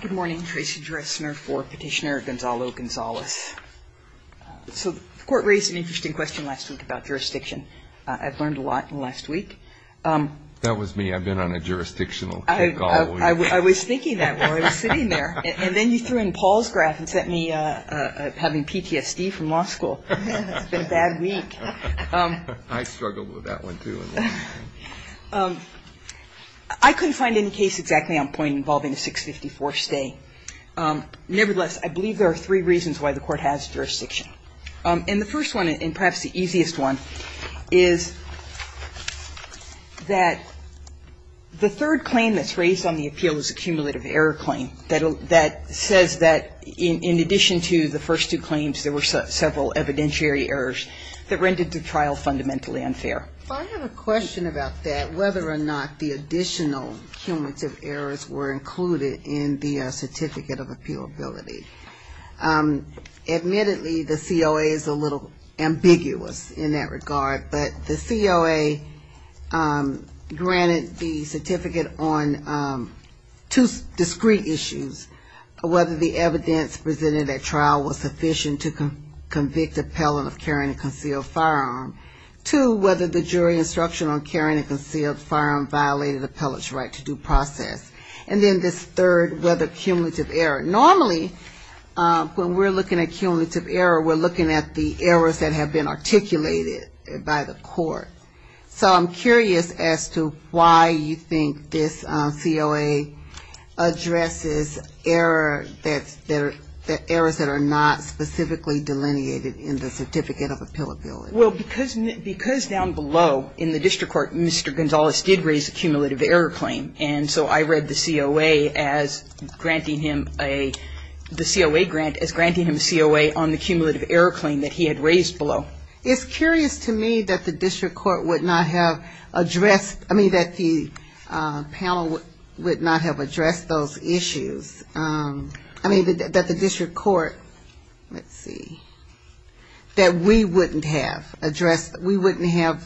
Good morning. Tracy Dressner for Petitioner Gonzalo Gonzalez. So the court raised an interesting question last week about jurisdiction. I've learned a lot in the last week. That was me. I've been on a jurisdictional kick all week. I was thinking that while I was sitting there. And then you threw in Paul's graph and sent me having PTSD from law school. It's been a bad week. I struggled with that one, too. I couldn't find any case exactly on point involving a 654 stay. Nevertheless, I believe there are three reasons why the court has jurisdiction. And the first one, and perhaps the easiest one, is that the third claim that's raised on the appeal is a cumulative error claim that says that in addition to the first two claims, there were several evidentiary errors that rendered the trial fundamentally unfair. I have a question about that, whether or not the additional cumulative errors were included in the certificate of appealability. Admittedly, the COA is a little ambiguous in that regard. But the COA granted the certificate on two discrete issues. Whether the evidence presented at trial was sufficient to convict appellant of carrying a concealed firearm. Two, whether the jury instruction on carrying a concealed firearm violated the appellant's right to due process. And then this third, whether cumulative error. Normally, the jury instruction on carrying a concealed firearm, when we're looking at cumulative error, we're looking at the errors that have been articulated by the court. So I'm curious as to why you think this COA addresses errors that are not specifically delineated in the certificate of appealability. Well, because down below in the district court, Mr. Gonzales did raise a cumulative error claim. And so I read the COA as granting him a, the COA granted him a cumulative error claim. And so I read the COA grant as granting him a COA on the cumulative error claim that he had raised below. It's curious to me that the district court would not have addressed, I mean, that the panel would not have addressed those issues. I mean, that the district court, let's see, that we wouldn't have addressed, we wouldn't have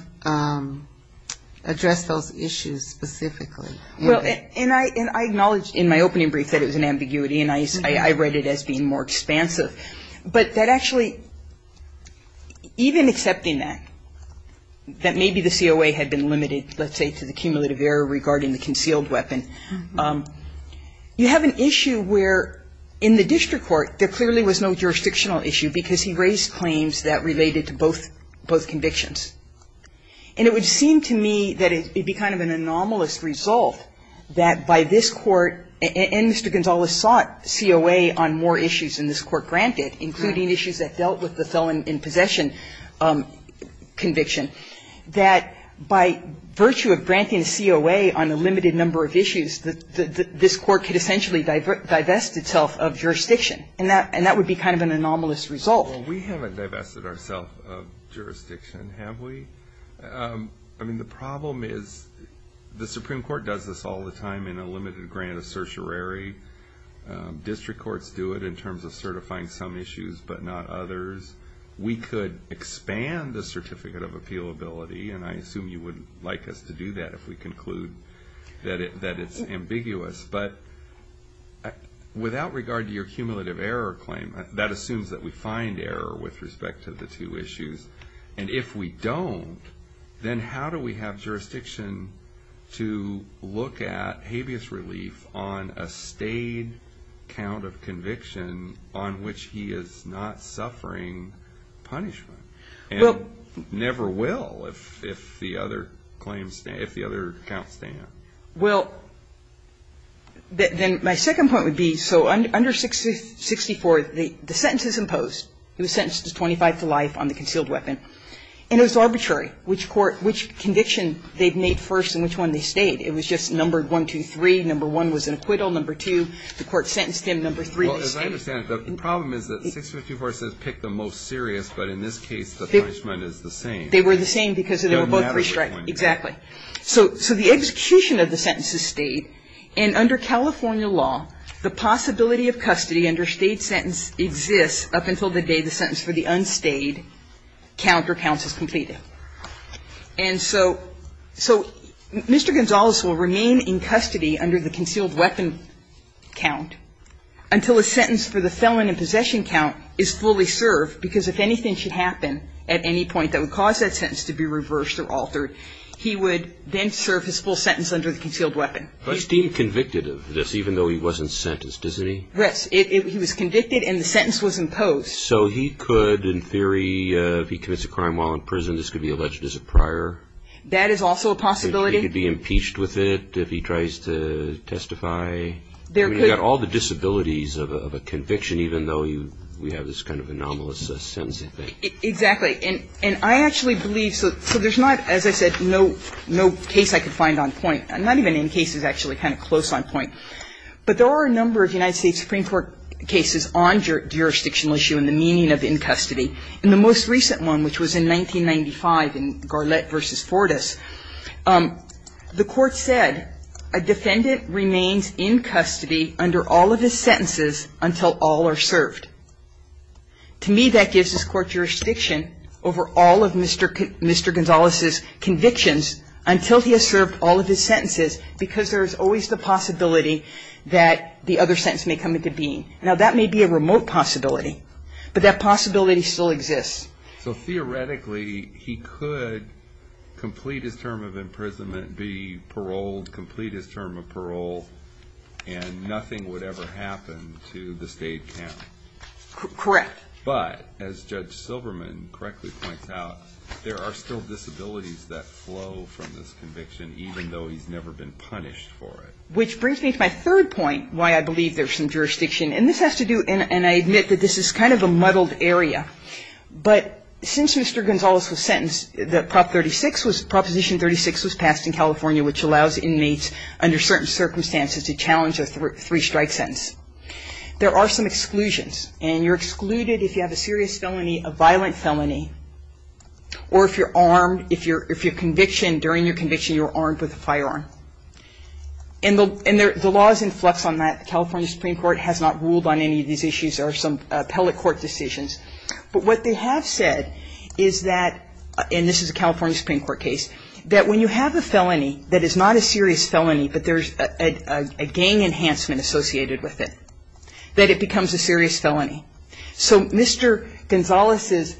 addressed those issues specifically. Well, and I acknowledge in my opening brief that it was an ambiguity, and I read it as being more expansive. But that actually, even accepting that, that maybe the COA had been limited, let's say, to the cumulative error regarding the concealed weapon, you have an issue where, in the district court, there clearly was no jurisdictional issue because he raised claims that related to both convictions. And it would seem to me that it would be kind of an anomalous result that by this Court, and Mr. Gonzales sought COA on more issues than this Court granted, including issues that dealt with the felon in possession conviction, that by virtue of granting COA on a limited number of issues, that this Court could essentially divest itself of jurisdiction. And that would be kind of an anomalous result. Well, we haven't divested ourselves of jurisdiction, have we? I mean, the problem is the Supreme Court does this all the time in a limited grant of certiorari. District courts do it in terms of certifying some issues but not others. We could expand the certificate of appealability, and I assume you wouldn't like us to do that if we conclude that it's ambiguous. But without regard to your cumulative error claim, that assumes that we find error with respect to the two issues. And if we don't, then how do we have jurisdiction to look at habeas relief on a stayed count of conviction on which he is not suffering punishment? And never will if the other counts stand. Well, then my second point would be, so under 654, the sentence is imposed. He was sentenced to 25 to life on the concealed weapon. And it was arbitrary which court, which conviction they made first and which one they stayed. It was just numbered 1, 2, 3. Number 1 was an acquittal. Number 2, the court sentenced him. Number 3 was stayed. Well, as I understand it, the problem is that 654 says pick the most serious, but in this case the punishment is the same. They were the same because they were both restricted. Exactly. So the execution of the sentence is stayed. And under California law, the possibility of custody under a stayed sentence exists up until the day the sentence for the unstayed count or counts is completed. And so Mr. Gonzales will remain in custody under the concealed weapon count until a sentence for the felon in possession count is fully served because if anything should happen at any point that would cause that sentence to be reversed or altered, he would then serve his full sentence under the concealed weapon. He's deemed convicted of this even though he wasn't sentenced, isn't he? Yes. He was convicted and the sentence was imposed. So he could, in theory, if he commits a crime while in prison, this could be alleged as a prior? That is also a possibility. He could be impeached with it if he tries to testify? I mean, you've got all the disabilities of a conviction even though we have this kind of anomalous sentencing thing. Exactly. And I actually believe, so there's not, as I said, no case I could find on point, not even in cases actually kind of close on point. But there are a number of United States Supreme Court cases on jurisdictional issue and the meaning of in custody. In the most recent one, which was in 1995 in Garlett v. Fortas, the Court said a defendant remains in custody under all of his sentences until all are served. To me, that gives this Court jurisdiction over all of Mr. Gonzalez's convictions until he has served all of his sentences because there is always the possibility that the other sentence may come into being. Now, that may be a remote possibility, but that possibility still exists. So theoretically, he could complete his term of imprisonment, be paroled, complete his term of parole, and nothing would ever happen to the state count? Correct. But, as Judge Silberman correctly points out, there are still disabilities that flow from this conviction even though he's never been punished for it. Which brings me to my third point, why I believe there's some jurisdiction. And this has to do, and I admit that this is kind of a muddled area, but since Mr. Gonzalez was sentenced, Proposition 36 was passed in California, which allows inmates under certain circumstances to challenge a three-strike sentence. There are some exclusions, and you're excluded if you have a serious felony, a violent felony, or if you're armed. In addition, during your conviction, you're armed with a firearm. And the law is in flux on that. The California Supreme Court has not ruled on any of these issues or some appellate court decisions. But what they have said is that, and this is a California Supreme Court case, that when you have a felony that is not a serious felony, but there's a gang enhancement associated with it, that it becomes a serious felony. So Mr. Gonzalez's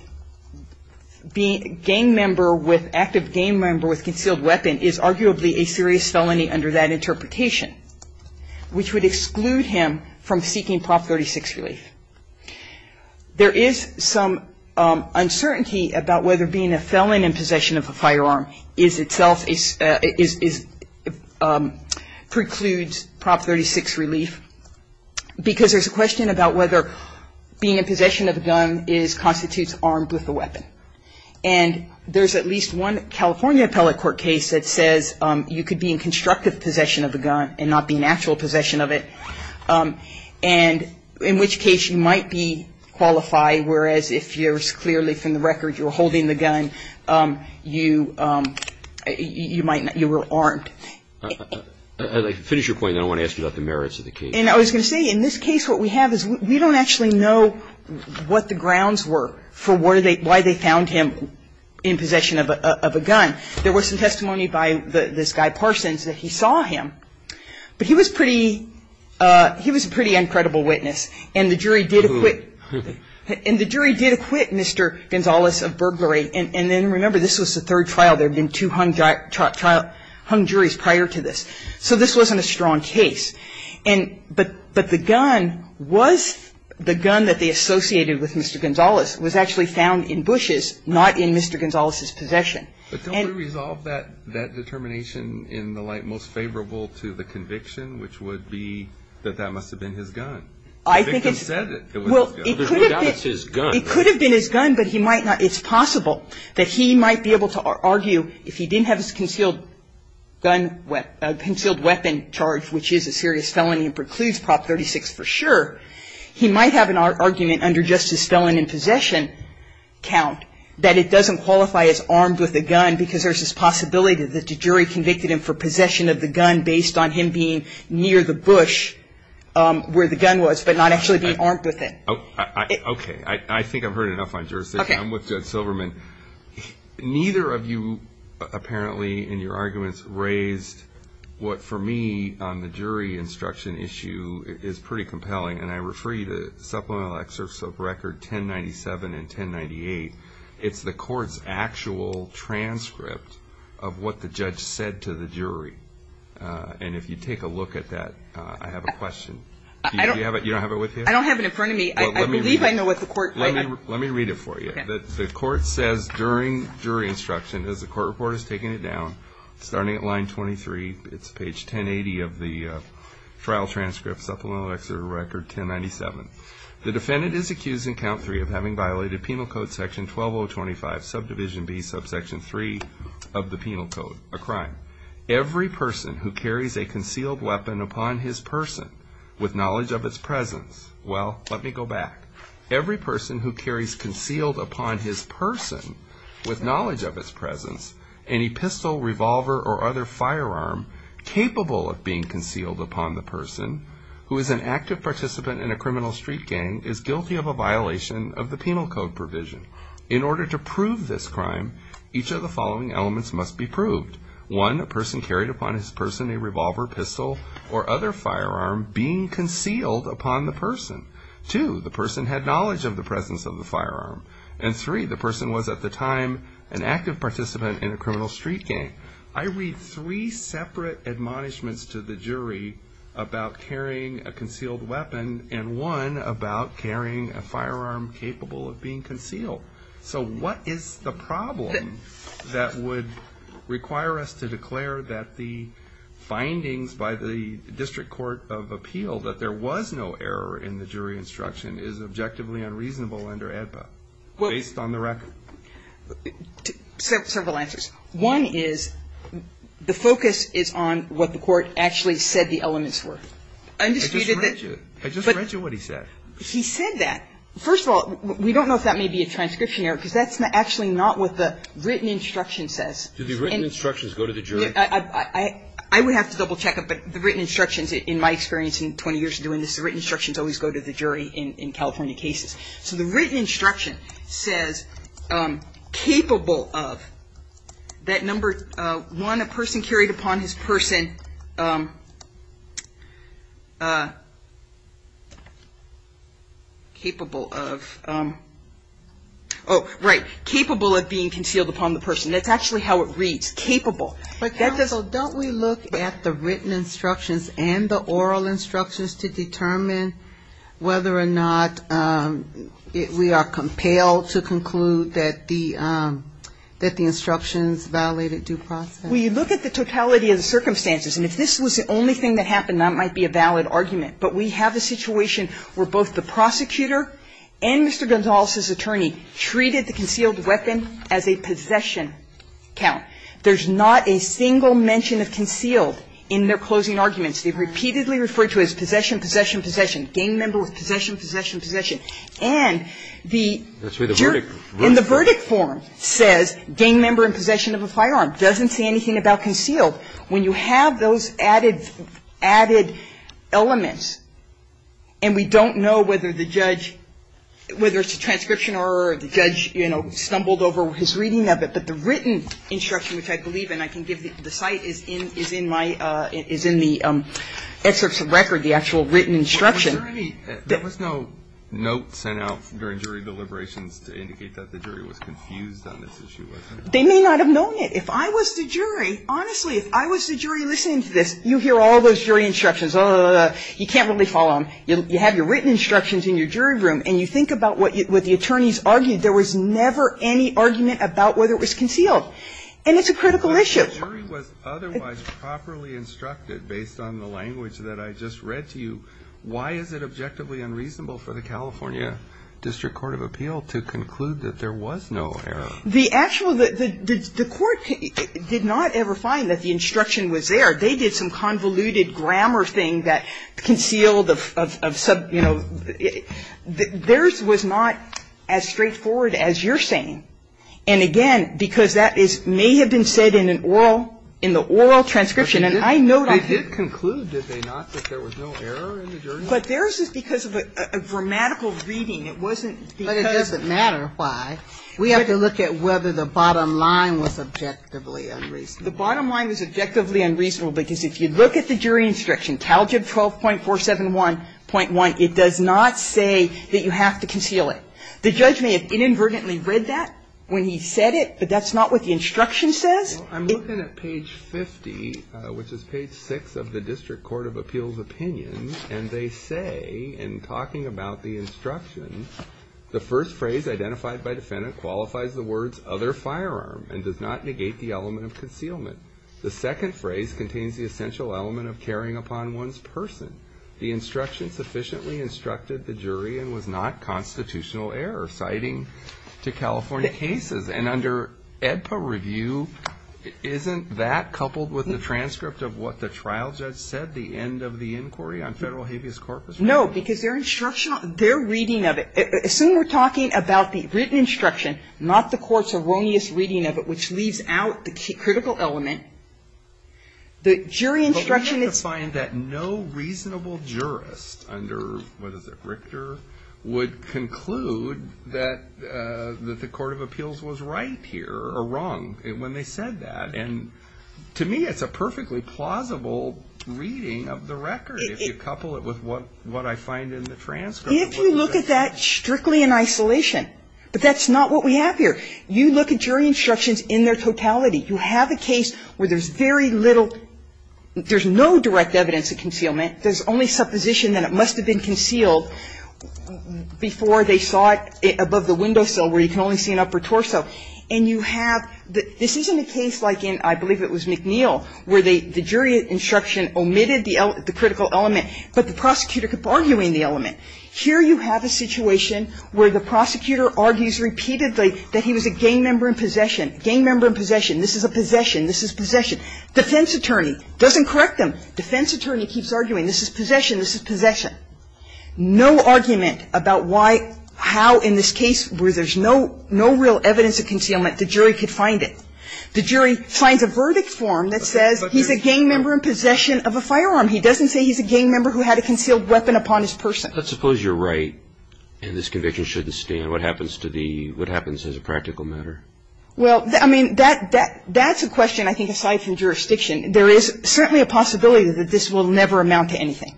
being a gang member with active gang member with concealed weapon is arguably a serious felony under that interpretation, which would exclude him from seeking Prop. 36 relief. There is some uncertainty about whether being a felon in possession of a firearm is itself, precludes Prop. 36 relief, because there's a question about whether being in possession of a gun constitutes armed with a weapon. And there's at least one California appellate court case that says you could be in constructive possession of a gun and not be in actual possession of it, and in which case you might be qualified, whereas if you're clearly, from the record, you're holding the gun, you were armed. I'd like to finish your point, and then I want to ask you about the merits of the case. And I was going to say, in this case, what we have is we don't actually know what the grounds were for why they found him in possession of a gun. There was some testimony by this guy Parsons that he saw him, but he was pretty uncredible witness. And the jury did acquit Mr. Gonzalez of burglary. And then, remember, this was the third trial. There had been two hung juries prior to this. So this wasn't a strong case. But the gun was the gun that they associated with Mr. Gonzalez was actually found in Bush's, not in Mr. Gonzalez's possession. And we resolved that determination in the light most favorable to the conviction, which would be that that must have been his gun. I think it's his gun. It could have been his gun, but he might not. It's possible that he might be able to argue, if he didn't have his concealed gun, concealed weapon charge, which is a serious felony and precludes Prop 36 for sure, he might have an argument under justice felon in possession count that it doesn't qualify as armed with a gun because there's this possibility that the jury convicted him for possession of the gun based on him being near the bush where the gun was, but not actually being armed with it. Okay. I think I've heard enough on jurisdiction. I'm with Judge Silverman. Neither of you apparently in your arguments raised what for me on the jury instruction issue is pretty compelling, and I refer you to Supplemental Excerpts of Record 1097 and 1098. It's the court's actual transcript of what the judge said to the jury. And if you take a look at that, I have a question. You don't have it with you? I don't have it in front of me. I believe I know what the court wrote. Let me read it for you. The court says during jury instruction, as the court report has taken it down, starting at line 23, it's page 1080 of the trial transcript, Supplemental Excerpt of Record 1097, the defendant is accused in count three of having violated Penal Code Section 12025, subdivision B, subsection 3 of the Penal Code, a crime. Every person who carries a concealed weapon upon his person with knowledge of its presence. Well, let me go back. Every person who carries concealed upon his person with knowledge of its presence any pistol, revolver, or other firearm capable of being concealed upon the person who is an active participant in a criminal street gang is guilty of a violation of the Penal Code provision. In order to prove this crime, each of the following elements must be proved. One, a person carried upon his person a revolver, pistol, or other firearm being concealed upon the person. Two, the person had knowledge of the presence of the firearm. And three, the person was at the time an active participant in a criminal street gang. I read three separate admonishments to the jury about carrying a concealed weapon and one about carrying a firearm capable of being concealed. So what is the problem that would require us to declare that the findings by the district court of appeal that there was no error in the jury instruction is objectively unreasonable under AEDPA based on the record? Several answers. One is the focus is on what the court actually said the elements were. I just read you what he said. He said that. First of all, we don't know if that may be a transcription error because that's actually not what the written instruction says. Do the written instructions go to the jury? I would have to double check it, but the written instructions in my experience in 20 years of doing this, the written instructions always go to the jury in California cases. So the written instruction says capable of that number one, a person carried upon his person capable of, oh, right, capable of being concealed upon the person. That's actually how it reads, capable. But counsel, don't we look at the written instructions and the oral instructions to determine whether or not we are compelled to conclude that the instructions violated due process? Well, you look at the totality of the circumstances. And if this was the only thing that happened, that might be a valid argument. But we have a situation where both the prosecutor and Mr. Gonzalez's attorney treated the concealed weapon as a possession count. There's not a single mention of concealed in their closing arguments. They have repeatedly referred to it as possession, possession, possession, gang member with possession, possession, possession. And the jury in the verdict form says gang member in possession of a firearm. It doesn't say anything about concealed. When you have those added elements and we don't know whether the judge, whether it's a transcription error or the judge, you know, stumbled over his reading of it, but the written instruction which I believe in, I can give the site, is in my, is in the excerpts of record, the actual written instruction. There was no note sent out during jury deliberations to indicate that the jury was confused on this issue, was there? They may not have known it. If I was the jury, honestly, if I was the jury listening to this, you hear all those jury instructions. You can't really follow them. You have your written instructions in your jury room. And you think about what the attorneys argued. There was never any argument about whether it was concealed. And it's a critical issue. Kennedy. But if the jury was otherwise properly instructed based on the language that I just read to you, why is it objectively unreasonable for the California District Court of Appeal to conclude that there was no error? The actual, the court did not ever find that the instruction was there. They did some convoluted grammar thing that concealed of, you know, theirs was not as straightforward as you're saying. And, again, because that is, may have been said in an oral, in the oral transcription. And I know that. They did conclude, did they not, that there was no error in the jury? But theirs is because of a grammatical reading. It wasn't because of. But it doesn't matter why. We have to look at whether the bottom line was objectively unreasonable. The bottom line was objectively unreasonable because if you look at the jury instruction, Calgib 12.471.1, it does not say that you have to conceal it. The judge may have inadvertently read that when he said it. But that's not what the instruction says. I'm looking at page 50, which is page 6 of the District Court of Appeal's opinion. And they say in talking about the instruction, the first phrase identified by defendant qualifies the words other firearm and does not negate the element of concealment. The second phrase contains the essential element of carrying upon one's person. The instruction sufficiently instructed the jury and was not constitutional error citing to California cases. And under AEDPA review, isn't that coupled with the transcript of what the trial judge said, the end of the inquiry on federal habeas corpus? No, because they're reading of it. Assuming we're talking about the written instruction, not the court's erroneous reading of it, which leaves out the critical element, the jury instruction is ---- But we have to find that no reasonable jurist under, what is it, Richter, would conclude that the court of appeals was right here or wrong when they said that. And to me, it's a perfectly plausible reading of the record, if you couple it with what I find in the transcript. If you look at that strictly in isolation, but that's not what we have here. You look at jury instructions in their totality. You have a case where there's very little ---- there's no direct evidence of concealment. There's only supposition that it must have been concealed before they saw it above the windowsill where you can only see an upper torso. And you have the ---- this isn't a case like in, I believe it was McNeil, where the jury instruction omitted the critical element, but the prosecutor kept arguing the element. Here you have a situation where the prosecutor argues repeatedly that he was a gang member in possession. Gang member in possession. This is a possession. This is possession. Defense attorney doesn't correct them. Defense attorney keeps arguing this is possession, this is possession. No argument about why, how in this case where there's no real evidence of concealment, the jury could find it. The jury finds a verdict form that says he's a gang member in possession of a firearm. He doesn't say he's a gang member who had a concealed weapon upon his person. And this is a case where the jury can't find evidence that he was a gang member in possession. Roberts. Kennedy. Let's suppose you're right and this conviction shouldn't stand. What happens to the ---- what happens as a practical matter? Well, I mean, that's a question I think aside from jurisdiction. There is certainly a possibility that this will never amount to anything.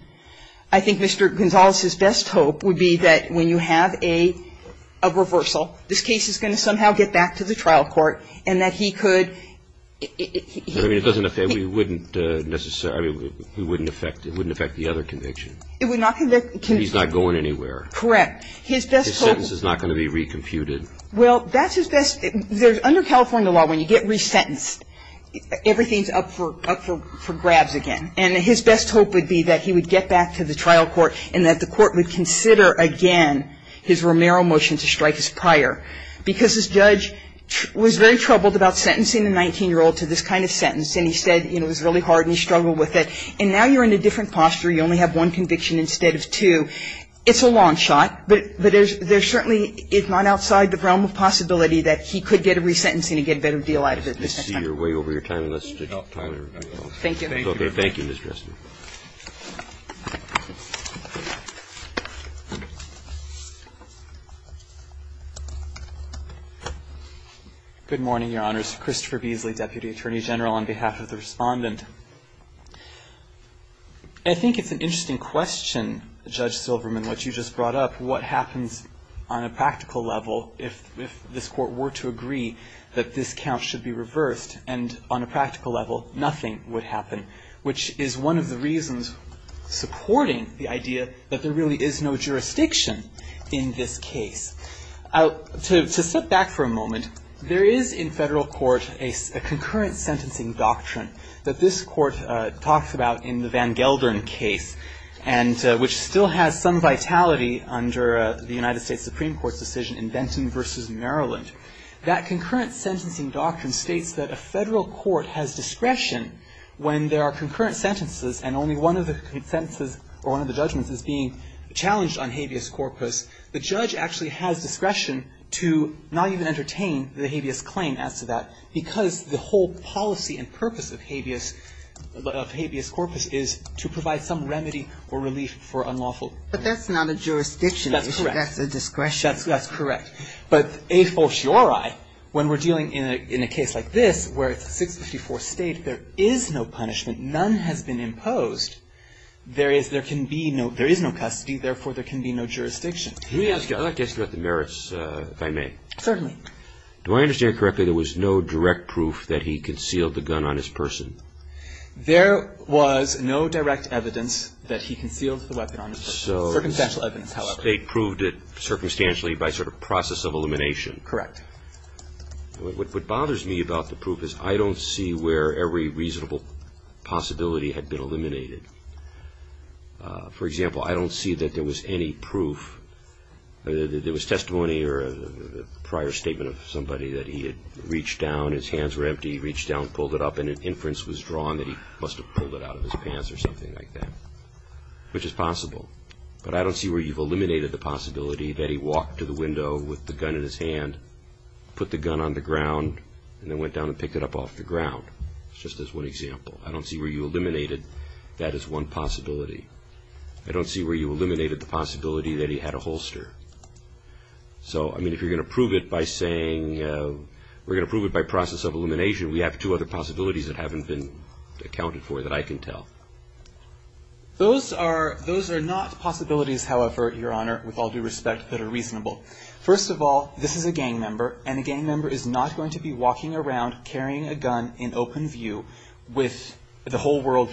He's not going anywhere. Correct. His best hope ---- His sentence is not going to be recomputed. Well, that's his best ---- under California law, when you get resentenced, everything's up for grabs again. And his best hope would be that he would get back to the trial court and that the court would consider, again, his Romero motion to strike his prior. Because this judge was very troubled about sentencing the 19-year-old to this kind of sentence, and he said it was really hard and he struggled with it. And now you're in a different posture. You only have one conviction instead of two. It's a long shot, but there's certainly, if not outside the realm of possibility, that he could get a resentencing and get a better deal out of it this time. I see you're way over your time. Let's take your time. Thank you. Thank you, Ms. Dresden. Good morning, Your Honors. Christopher Beasley, Deputy Attorney General, on behalf of the Respondent. I think it's an interesting question, Judge Silverman, what you just brought up, what happens on a practical level if this court were to agree that this count should be reversed and on a practical level nothing would happen, which is one of the reasons supporting the idea that there really is no jurisdiction in this case. To step back for a moment, there is in federal court a concurrent sentencing doctrine that this court talks about in the Van Gelderen case, which still has some vitality under the United States Supreme Court's decision in Benton v. Maryland. That concurrent sentencing doctrine states that a federal court has discretion when there are concurrent sentences and only one of the sentences or one of the judgments is being challenged on habeas corpus. The judge actually has discretion to not even entertain the habeas claim as to that because the whole policy and purpose of habeas corpus is to provide some remedy or relief for unlawful punishment. But that's not a jurisdiction. That's correct. That's a discretion. That's correct. But a fociori, when we're dealing in a case like this, where it's a 654 state, there is no punishment. None has been imposed. There is no custody. Therefore, there can be no jurisdiction. Let me ask you, I'd like to ask you about the merits, if I may. Certainly. Do I understand correctly there was no direct proof that he concealed the gun on his person? There was no direct evidence that he concealed the weapon on his person. Circumstantial evidence, however. So the State proved it circumstantially by sort of process of elimination. Correct. What bothers me about the proof is I don't see where every reasonable possibility had been eliminated. For example, I don't see that there was any proof, that there was testimony or a prior statement of somebody that he had reached down, his hands were empty, reached down, pulled it up, and an inference was drawn that he must have pulled it out of his pants or something like that, which is possible. But I don't see where you've eliminated the possibility that he walked to the window with the gun in his hand, put the gun on the ground, and then went down and picked it up off the ground, just as one example. I don't see where you eliminated that as one possibility. I don't see where you eliminated the possibility that he had a holster. So, I mean, if you're going to prove it by saying we're going to prove it by process of elimination, we have two other possibilities that haven't been accounted for that I can tell. Those are not possibilities, however, Your Honor, with all due respect, that are reasonable. First of all, this is a gang member, and a gang member is not going to be walking around carrying a gun in open view with the whole world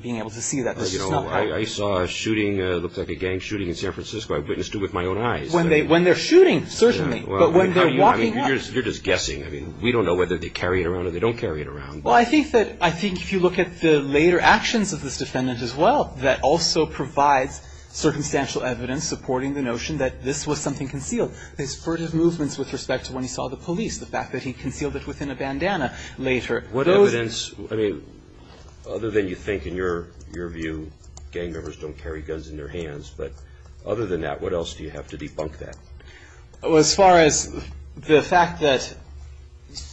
being able to see that. I saw a shooting, it looked like a gang shooting in San Francisco, I witnessed it with my own eyes. When they're shooting, certainly, but when they're walking... You're just guessing. I mean, we don't know whether they carry it around or they don't carry it around. Well, I think that if you look at the later actions of this defendant as well, that also provides circumstantial evidence supporting the notion that this was something concealed. They spurred his movements with respect to when he saw the police, the fact that he concealed it within a bandana later. What evidence, I mean, other than you think in your view gang members don't carry guns in their hands, but other than that, what else do you have to debunk that? Well, as far as the fact that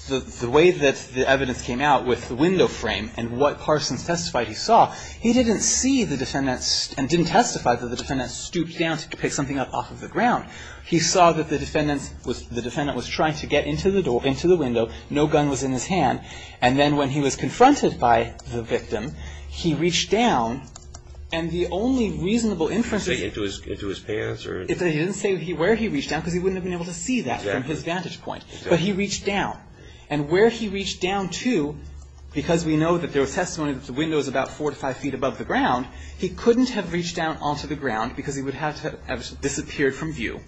the way that the evidence came out with the window frame and what Parsons testified he saw, he didn't see the defendant, and didn't testify that the defendant stooped down to pick something up off of the ground. He saw that the defendant was trying to get into the door, into the window, so no gun was in his hand, and then when he was confronted by the victim, he reached down and the only reasonable inference... He didn't say into his pants or... He didn't say where he reached down because he wouldn't have been able to see that from his vantage point. Exactly. But he reached down. And where he reached down to, because we know that there was testimony that the window was about four to five feet above the ground, he couldn't have reached down onto the ground because he would have to have disappeared from view.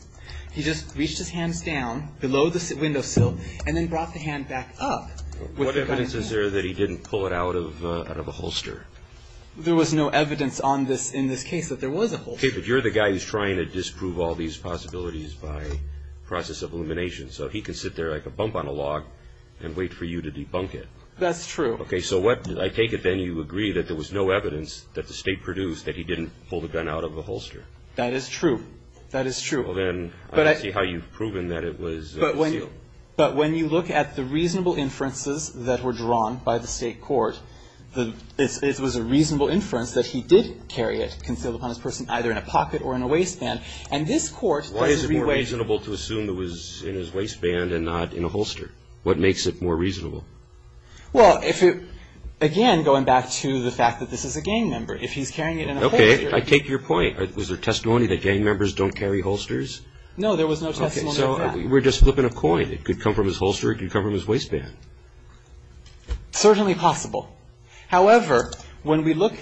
He just reached his hands down below the window sill and then brought the hand back up. What evidence is there that he didn't pull it out of a holster? There was no evidence on this in this case that there was a holster. Okay. But you're the guy who's trying to disprove all these possibilities by process of elimination. So he can sit there like a bump on a log and wait for you to debunk it. That's true. Okay. So what, I take it then you agree that there was no evidence that the State produced that he didn't pull the gun out of a holster? That is true. That is true. Well, then, I don't see how you've proven that it was a seal. But when you look at the reasonable inferences that were drawn by the State court, it was a reasonable inference that he did carry it concealed upon his person either in a pocket or in a waistband. And this court does it in three ways. Why is it more reasonable to assume it was in his waistband and not in a holster? What makes it more reasonable? Well, if it, again, going back to the fact that this is a gang member, if he's carrying it in a holster. Okay. I take your point. Was there testimony that gang members don't carry holsters? No, there was no testimony of that. Okay. So we're just flipping a coin. It could come from his holster. It could come from his waistband. Certainly possible. However, when we look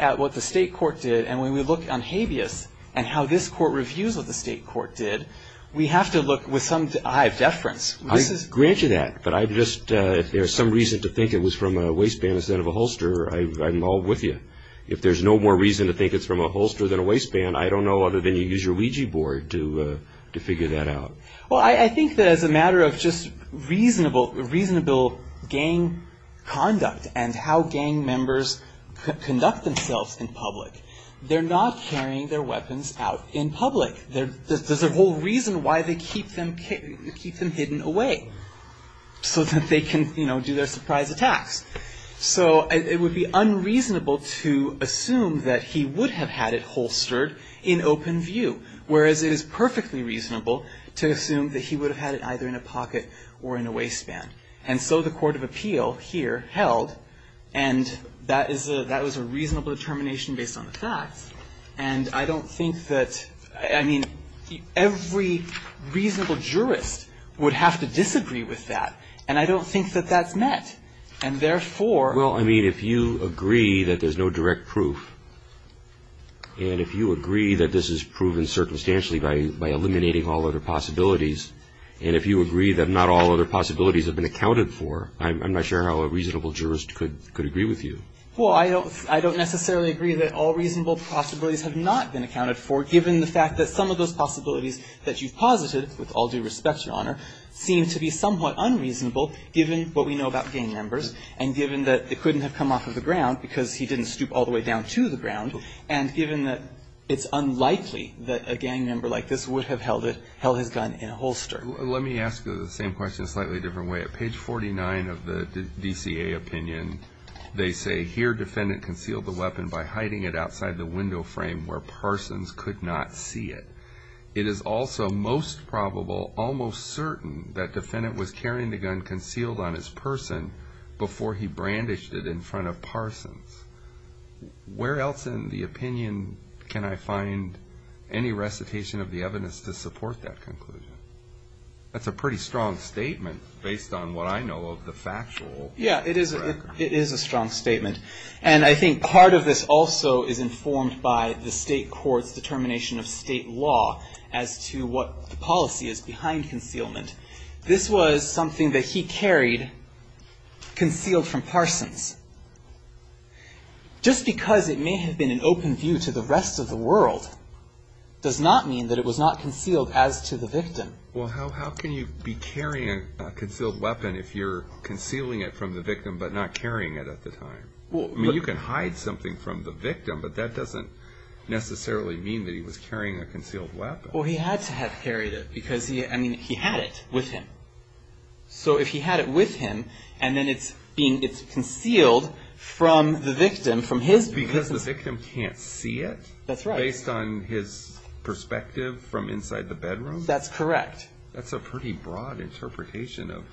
at what the State court did and when we look on habeas and how this court reviews what the State court did, we have to look with some eye of deference. I grant you that. But I just, if there's some reason to think it was from a waistband instead of a holster, I'm all with you. If there's no more reason to think it's from a holster than a waistband, I don't know other than you use your Ouija board to figure that out. Well, I think that as a matter of just reasonable gang conduct and how gang members conduct themselves in public, they're not carrying their weapons out in public. There's a whole reason why they keep them hidden away so that they can, you know, do their surprise attacks. So it would be unreasonable to assume that he would have had it holstered in open view, whereas it is perfectly reasonable to assume that he would have had it either in a pocket or in a waistband. And so the court of appeal here held, and that was a reasonable determination based on the facts, and I don't think that, I mean, every reasonable jurist would have to disagree with that. And I don't think that that's met. And therefore Well, I mean, if you agree that there's no direct proof, and if you agree that this is proven circumstantially by eliminating all other possibilities, and if you agree that not all other possibilities have been accounted for, I'm not sure how a reasonable jurist could agree with you. Well, I don't necessarily agree that all reasonable possibilities have not been accounted for, given the fact that some of those possibilities that you've posited, with all due respect, Your Honor, seem to be somewhat unreasonable given what we know about gang members and given that it couldn't have come off of the ground because he didn't stoop all the way down to the ground, and given that it's unlikely that a gang member like this would have held his gun in a holster. Let me ask you the same question a slightly different way. At page 49 of the DCA opinion, they say, here defendant concealed the weapon by hiding it outside the window frame where Parsons could not see it. It is also most probable, almost certain, that defendant was carrying the gun concealed on his person before he brandished it in front of Parsons. Where else in the opinion can I find any recitation of the evidence to support that conclusion? That's a pretty strong statement based on what I know of the factual record. Yeah, it is a strong statement, and I think part of this also is informed by the state court's determination of state law as to what the policy is behind concealment. This was something that he carried concealed from Parsons. Just because it may have been an open view to the rest of the world does not mean that it was not concealed as to the victim. Well, how can you be carrying a concealed weapon if you're concealing it from the victim but not carrying it at the time? I mean, you can hide something from the victim, but that doesn't necessarily mean that he was carrying a concealed weapon. Well, he had to have carried it because, I mean, he had it with him. So if he had it with him, and then it's concealed from the victim, from his... Because the victim can't see it? That's right. Based on his perspective from inside the bedroom? That's correct. That's a pretty broad interpretation of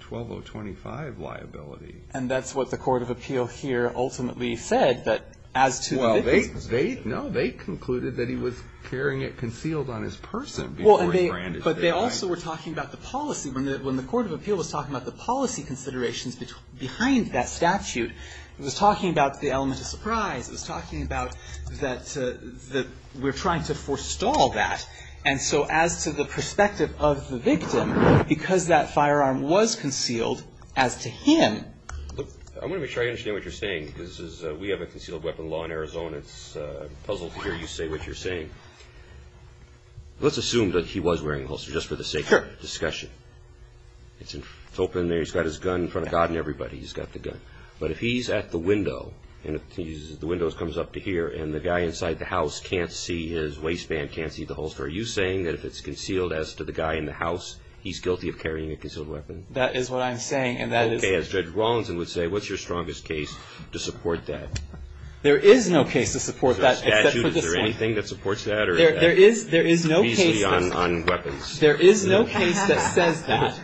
12025 liability. And that's what the court of appeal here ultimately said, that as to the victim's... Well, they concluded that he was carrying it concealed on his person before he brandished it. But they also were talking about the policy. When the court of appeal was talking about the policy considerations behind that statute, it was talking about the element of surprise. It was talking about that we're trying to forestall that. And so as to the perspective of the victim, because that firearm was concealed, as to him... I want to make sure I understand what you're saying, because we have a concealed weapon law in Arizona. It's a puzzle to hear you say what you're saying. Let's assume that he was wearing a holster, just for the sake of discussion. It's open there. He's got his gun in front of God and everybody. He's got the gun. But if he's at the window, and the window comes up to here, and the guy inside the house can't see his waistband, can't see the holster, are you saying that if it's concealed, as to the guy in the house, he's guilty of carrying a concealed weapon? That is what I'm saying, and that is... Okay. As Judge Rawlinson would say, what's your strongest case to support that? There is no case to support that, except for this one. Is there anything that supports that? There is no case that says that,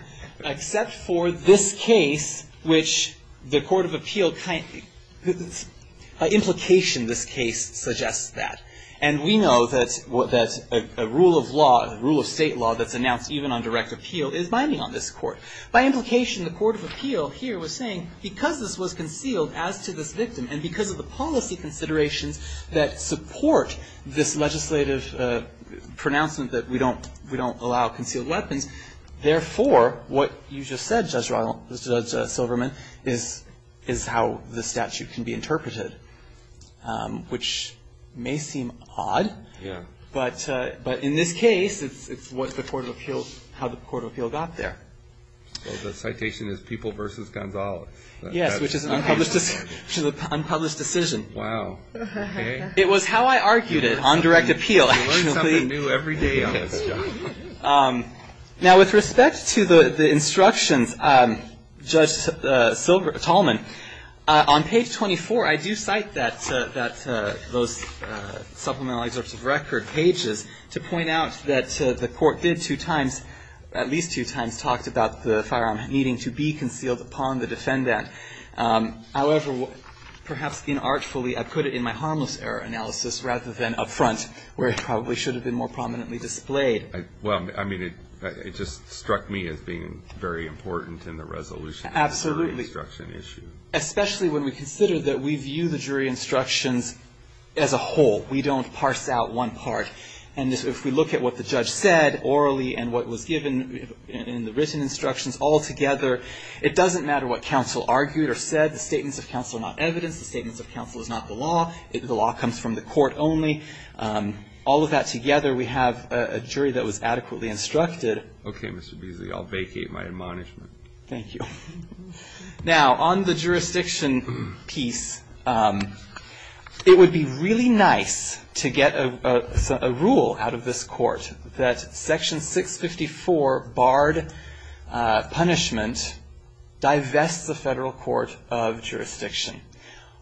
except for this case, which the Court of Appeal, by implication, this case suggests that. And we know that a rule of law, a rule of state law, that's announced even on direct appeal, is binding on this Court. By implication, the Court of Appeal here was saying, because this was concealed as to this victim, and because of the policy considerations that support this legislative pronouncement that we don't allow concealed weapons, therefore, what you just said, Judge Silverman, is how the statute can be interpreted, which may seem odd, but in this case, it's how the Court of Appeal got there. Well, the citation is People v. Gonzales. Yes, which is an unpublished decision. Wow. It was how I argued it, on direct appeal. You learn something new every day on this, John. Now, with respect to the instructions, Judge Tallman, on page 24, I do cite that, those supplemental excerpts of record pages, to point out that the Court did two times, at least two times, talked about the firearm needing to be concealed upon the defendant. However, perhaps inartfully, I put it in my harmless error analysis, rather than up front, where it probably should have been more prominently displayed. Well, I mean, it just struck me as being very important in the resolution. Absolutely. Especially when we consider that we view the jury instructions as a whole. We don't parse out one part. And if we look at what the judge said, orally, and what was given in the written instructions altogether, it doesn't matter what counsel argued or said. The statements of counsel are not evidence. The statements of counsel is not the law. The law comes from the court only. All of that together, we have a jury that was adequately instructed. Okay, Mr. Beasley. I'll vacate my admonishment. Thank you. Now, on the jurisdiction piece, it would be really nice to get a rule out of this court that Section 654, barred punishment, divests the Federal Court of Jurisdiction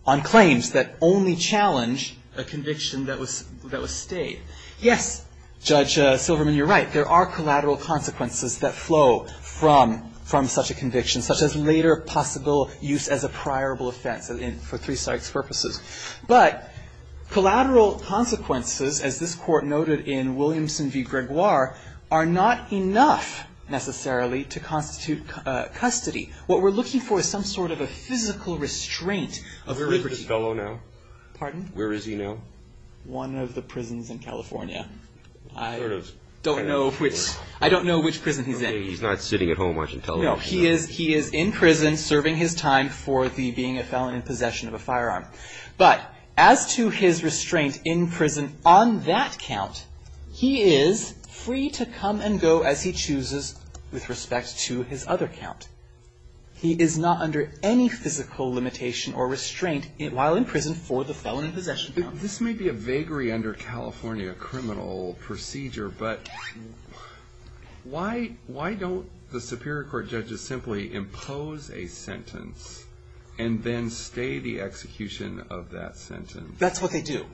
on claims that only challenge a conviction that was stayed. Yes, Judge Silverman, you're right. There are collateral consequences that flow from such a conviction, such as later possible use as a priorable offense for three sites purposes. But collateral consequences, as this court noted in Williamson v. Gregoire, are not enough, necessarily, to constitute custody. What we're looking for is some sort of a physical restraint. Where is this fellow now? Pardon? Where is he now? One of the prisons in California. I don't know which prison he's in. He's not sitting at home watching television. No, he is in prison serving his time for the being a felon in possession of a firearm. But as to his restraint in prison on that count, he is free to come and go as he chooses with respect to his other count. He is not under any physical limitation or restraint while in prison for the felon in possession count. This may be a vagary under California criminal procedure, but why don't the Superior Court judges simply impose a sentence and then stay the execution of that sentence? That's what they do.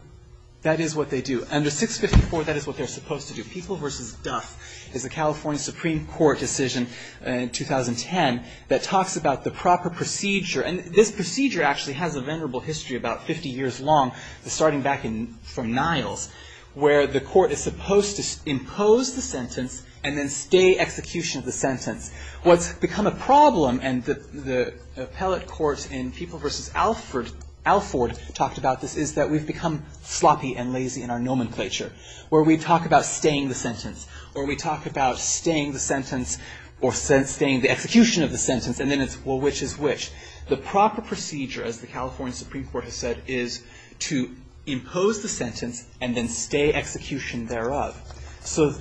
That is what they do. Under 654, that is what they're supposed to do. People v. Duff is a California Supreme Court decision in 2010 that talks about the proper procedure. And this procedure actually has a venerable history about 50 years long, starting back from Niles, where the court is supposed to impose the sentence and then stay execution of the sentence. What's become a problem, and the appellate court in People v. Alford talked about this, is that we've become sloppy and lazy in our nomenclature, where we talk about staying the sentence, or we talk about staying the sentence or staying the execution of the sentence, and then it's, well, which is which? The proper procedure, as the California Supreme Court has said, is to impose the sentence and then stay execution thereof.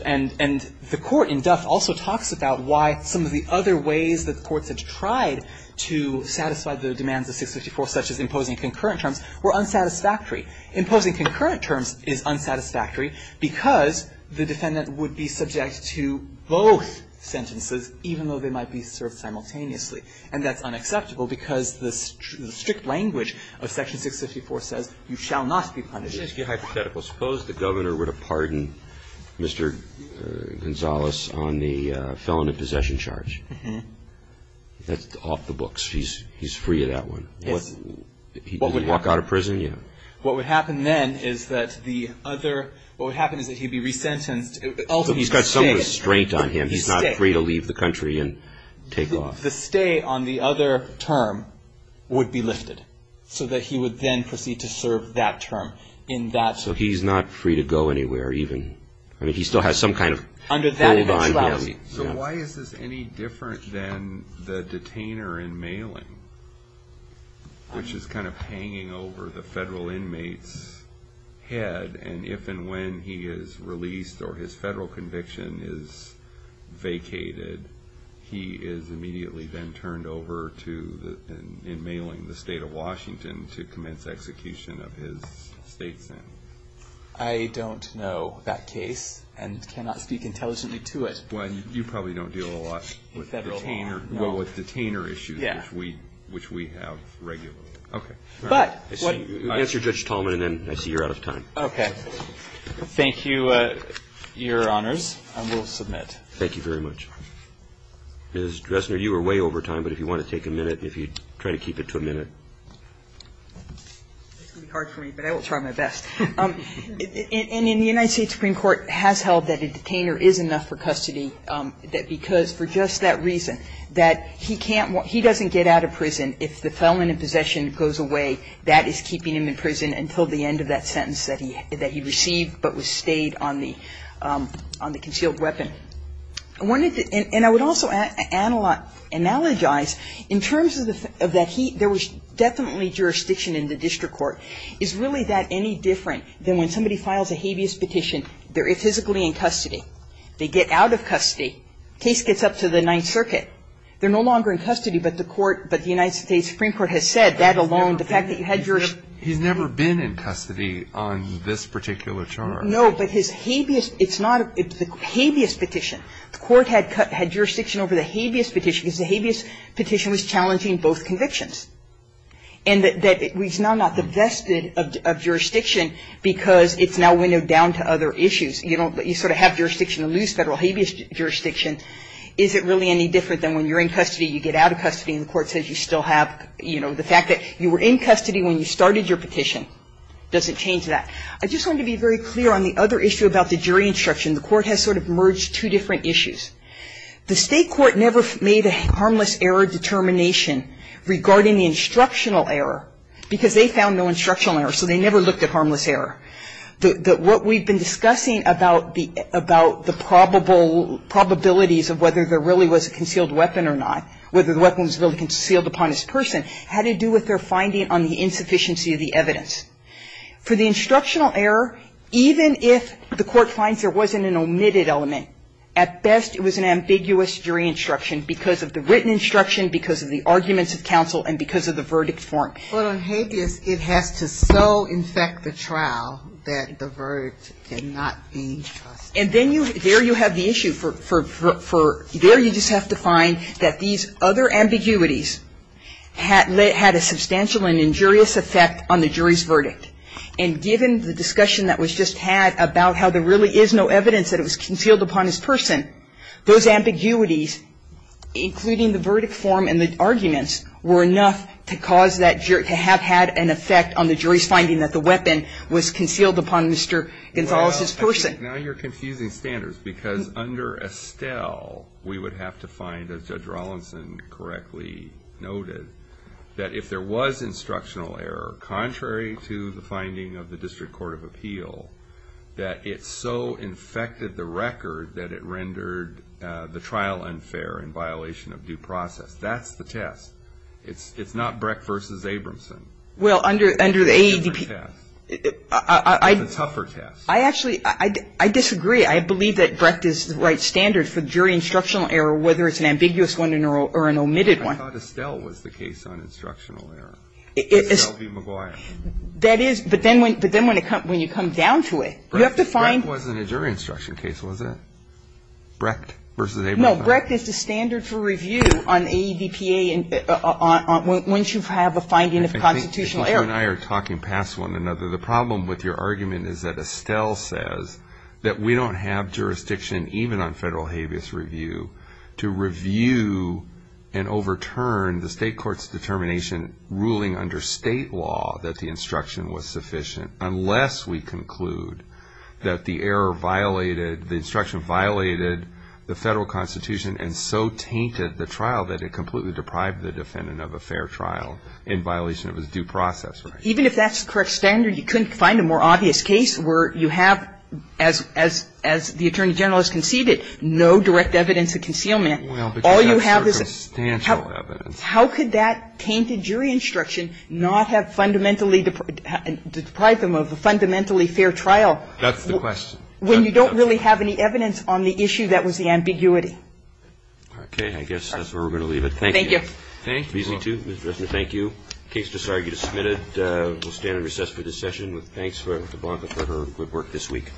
And the court in Duff also talks about why some of the other ways that the courts have tried to satisfy the demands of 654, such as imposing concurrent terms, were unsatisfactory. Imposing concurrent terms is unsatisfactory because the defendant would be subject to both sentences, even though they might be served simultaneously. And that's unacceptable because the strict language of Section 654 says, you shall not be punished. It seems to be hypothetical. Suppose the governor were to pardon Mr. Gonzales on the felon in possession charge. That's off the books. He's free of that one. What would happen? He'd walk out of prison, yeah. What would happen then is that the other, what would happen is that he'd be resentenced. He's got some restraint on him. He's not free to leave the country and take off. The stay on the other term would be lifted, so that he would then proceed to serve that term in that. So he's not free to go anywhere even. I mean, he still has some kind of hold on. So why is this any different than the detainer in mailing, which is kind of hanging over the federal inmate's head, and if and when he is released or his federal conviction is vacated, he is immediately then turned over to in mailing the state of Washington to commence execution of his state sin. I don't know that case and cannot speak intelligently to it. Well, you probably don't deal a lot with detainer issues. kind of detainer issue. Yeah. Which we have regularly. Okay. Answer Judge Tallman and then I see you're out of time. Okay. Thank you, Your Honors. I will submit. Thank you very much. Ms. Dresner, you were way over time, but if you want to take a minute, if you'd try to keep it to a minute. It's going to be hard for me, but I will try my best. And in the United States Supreme Court has held that a detainer is enough for custody that because for just that reason, that he can't, he doesn't get out of prison if the felon in possession goes away. That is keeping him in prison until the end of that sentence that he received but was stayed on the concealed weapon. And I would also analogize in terms of that there was definitely jurisdiction in the district court. Is really that any different than when somebody files a habeas petition, they're physically in custody. They get out of custody. Case gets up to the Ninth Circuit. They're no longer in custody, but the court, but the United States Supreme Court has said that alone, the fact that you had jurisdiction. He's never been in custody on this particular charge. No, but his habeas, it's not, it's the habeas petition. The court had jurisdiction over the habeas petition because the habeas petition was challenging both convictions. And that it's now not the vested of jurisdiction because it's now windowed down to other issues. You don't, you sort of have jurisdiction to lose federal habeas jurisdiction. Is it really any different than when you're in custody, you get out of custody and the court says you still have, you know, the fact that you were in custody when you started your petition. Doesn't change that. I just want to be very clear on the other issue about the jury instruction. The court has sort of merged two different issues. The State court never made a harmless error determination regarding the instructional error because they found no instructional error. So they never looked at harmless error. What we've been discussing about the probable, probabilities of whether there really was a concealed weapon or not, whether the weapon was really concealed upon this person, had to do with their finding on the insufficiency of the evidence. For the instructional error, even if the court finds there wasn't an omitted element, at best it was an ambiguous jury instruction because of the written instruction, because of the arguments of counsel, and because of the verdict form. But on habeas, it has to so infect the trial that the verdict did not be trusted. And then you, there you have the issue for, there you just have to find that these other ambiguities had a substantial and injurious effect on the jury's verdict. And given the discussion that was just had about how there really is no evidence that it was concealed upon this person, those ambiguities, including the verdict form and the arguments, were enough to cause that, to have had an effect on the jury's finding that the weapon was concealed upon Mr. Gonzales' person. Now you're confusing standards because under Estelle, we would have to find, as Judge Rollinson correctly noted, that if there was instructional error, contrary to the finding of the District Court of Appeal, that it so infected the record that it rendered the trial unfair in violation of due process. That's the test. It's not Brecht versus Abramson. It's a different test. It's a tougher test. I actually, I disagree. I believe that Brecht is the right standard for jury instructional error, whether it's an ambiguous one or an omitted one. I thought Estelle was the case on instructional error. Estelle B. Why? That is, but then when you come down to it, you have to find Brecht wasn't a jury instruction case, was it? Brecht versus Abramson. No, Brecht is the standard for review on AEDPA once you have a finding of constitutional error. I think that you and I are talking past one another. The problem with your argument is that Estelle says that we don't have jurisdiction, even on federal habeas review, to review and overturn the state law that the instruction was sufficient, unless we conclude that the error violated, the instruction violated the federal constitution and so tainted the trial that it completely deprived the defendant of a fair trial in violation of his due process right. Even if that's the correct standard, you couldn't find a more obvious case where you have, as the Attorney General has conceded, no direct evidence of concealment. Well, because that's circumstantial evidence. How could that tainted jury instruction not have fundamentally deprived them of a fundamentally fair trial? That's the question. When you don't really have any evidence on the issue that was the ambiguity. Okay. I guess that's where we're going to leave it. Thank you. Thank you. Thank you. The case is discarded. You are submitted. We'll stand in recess for this session. Thanks to Blanca for her good work this week.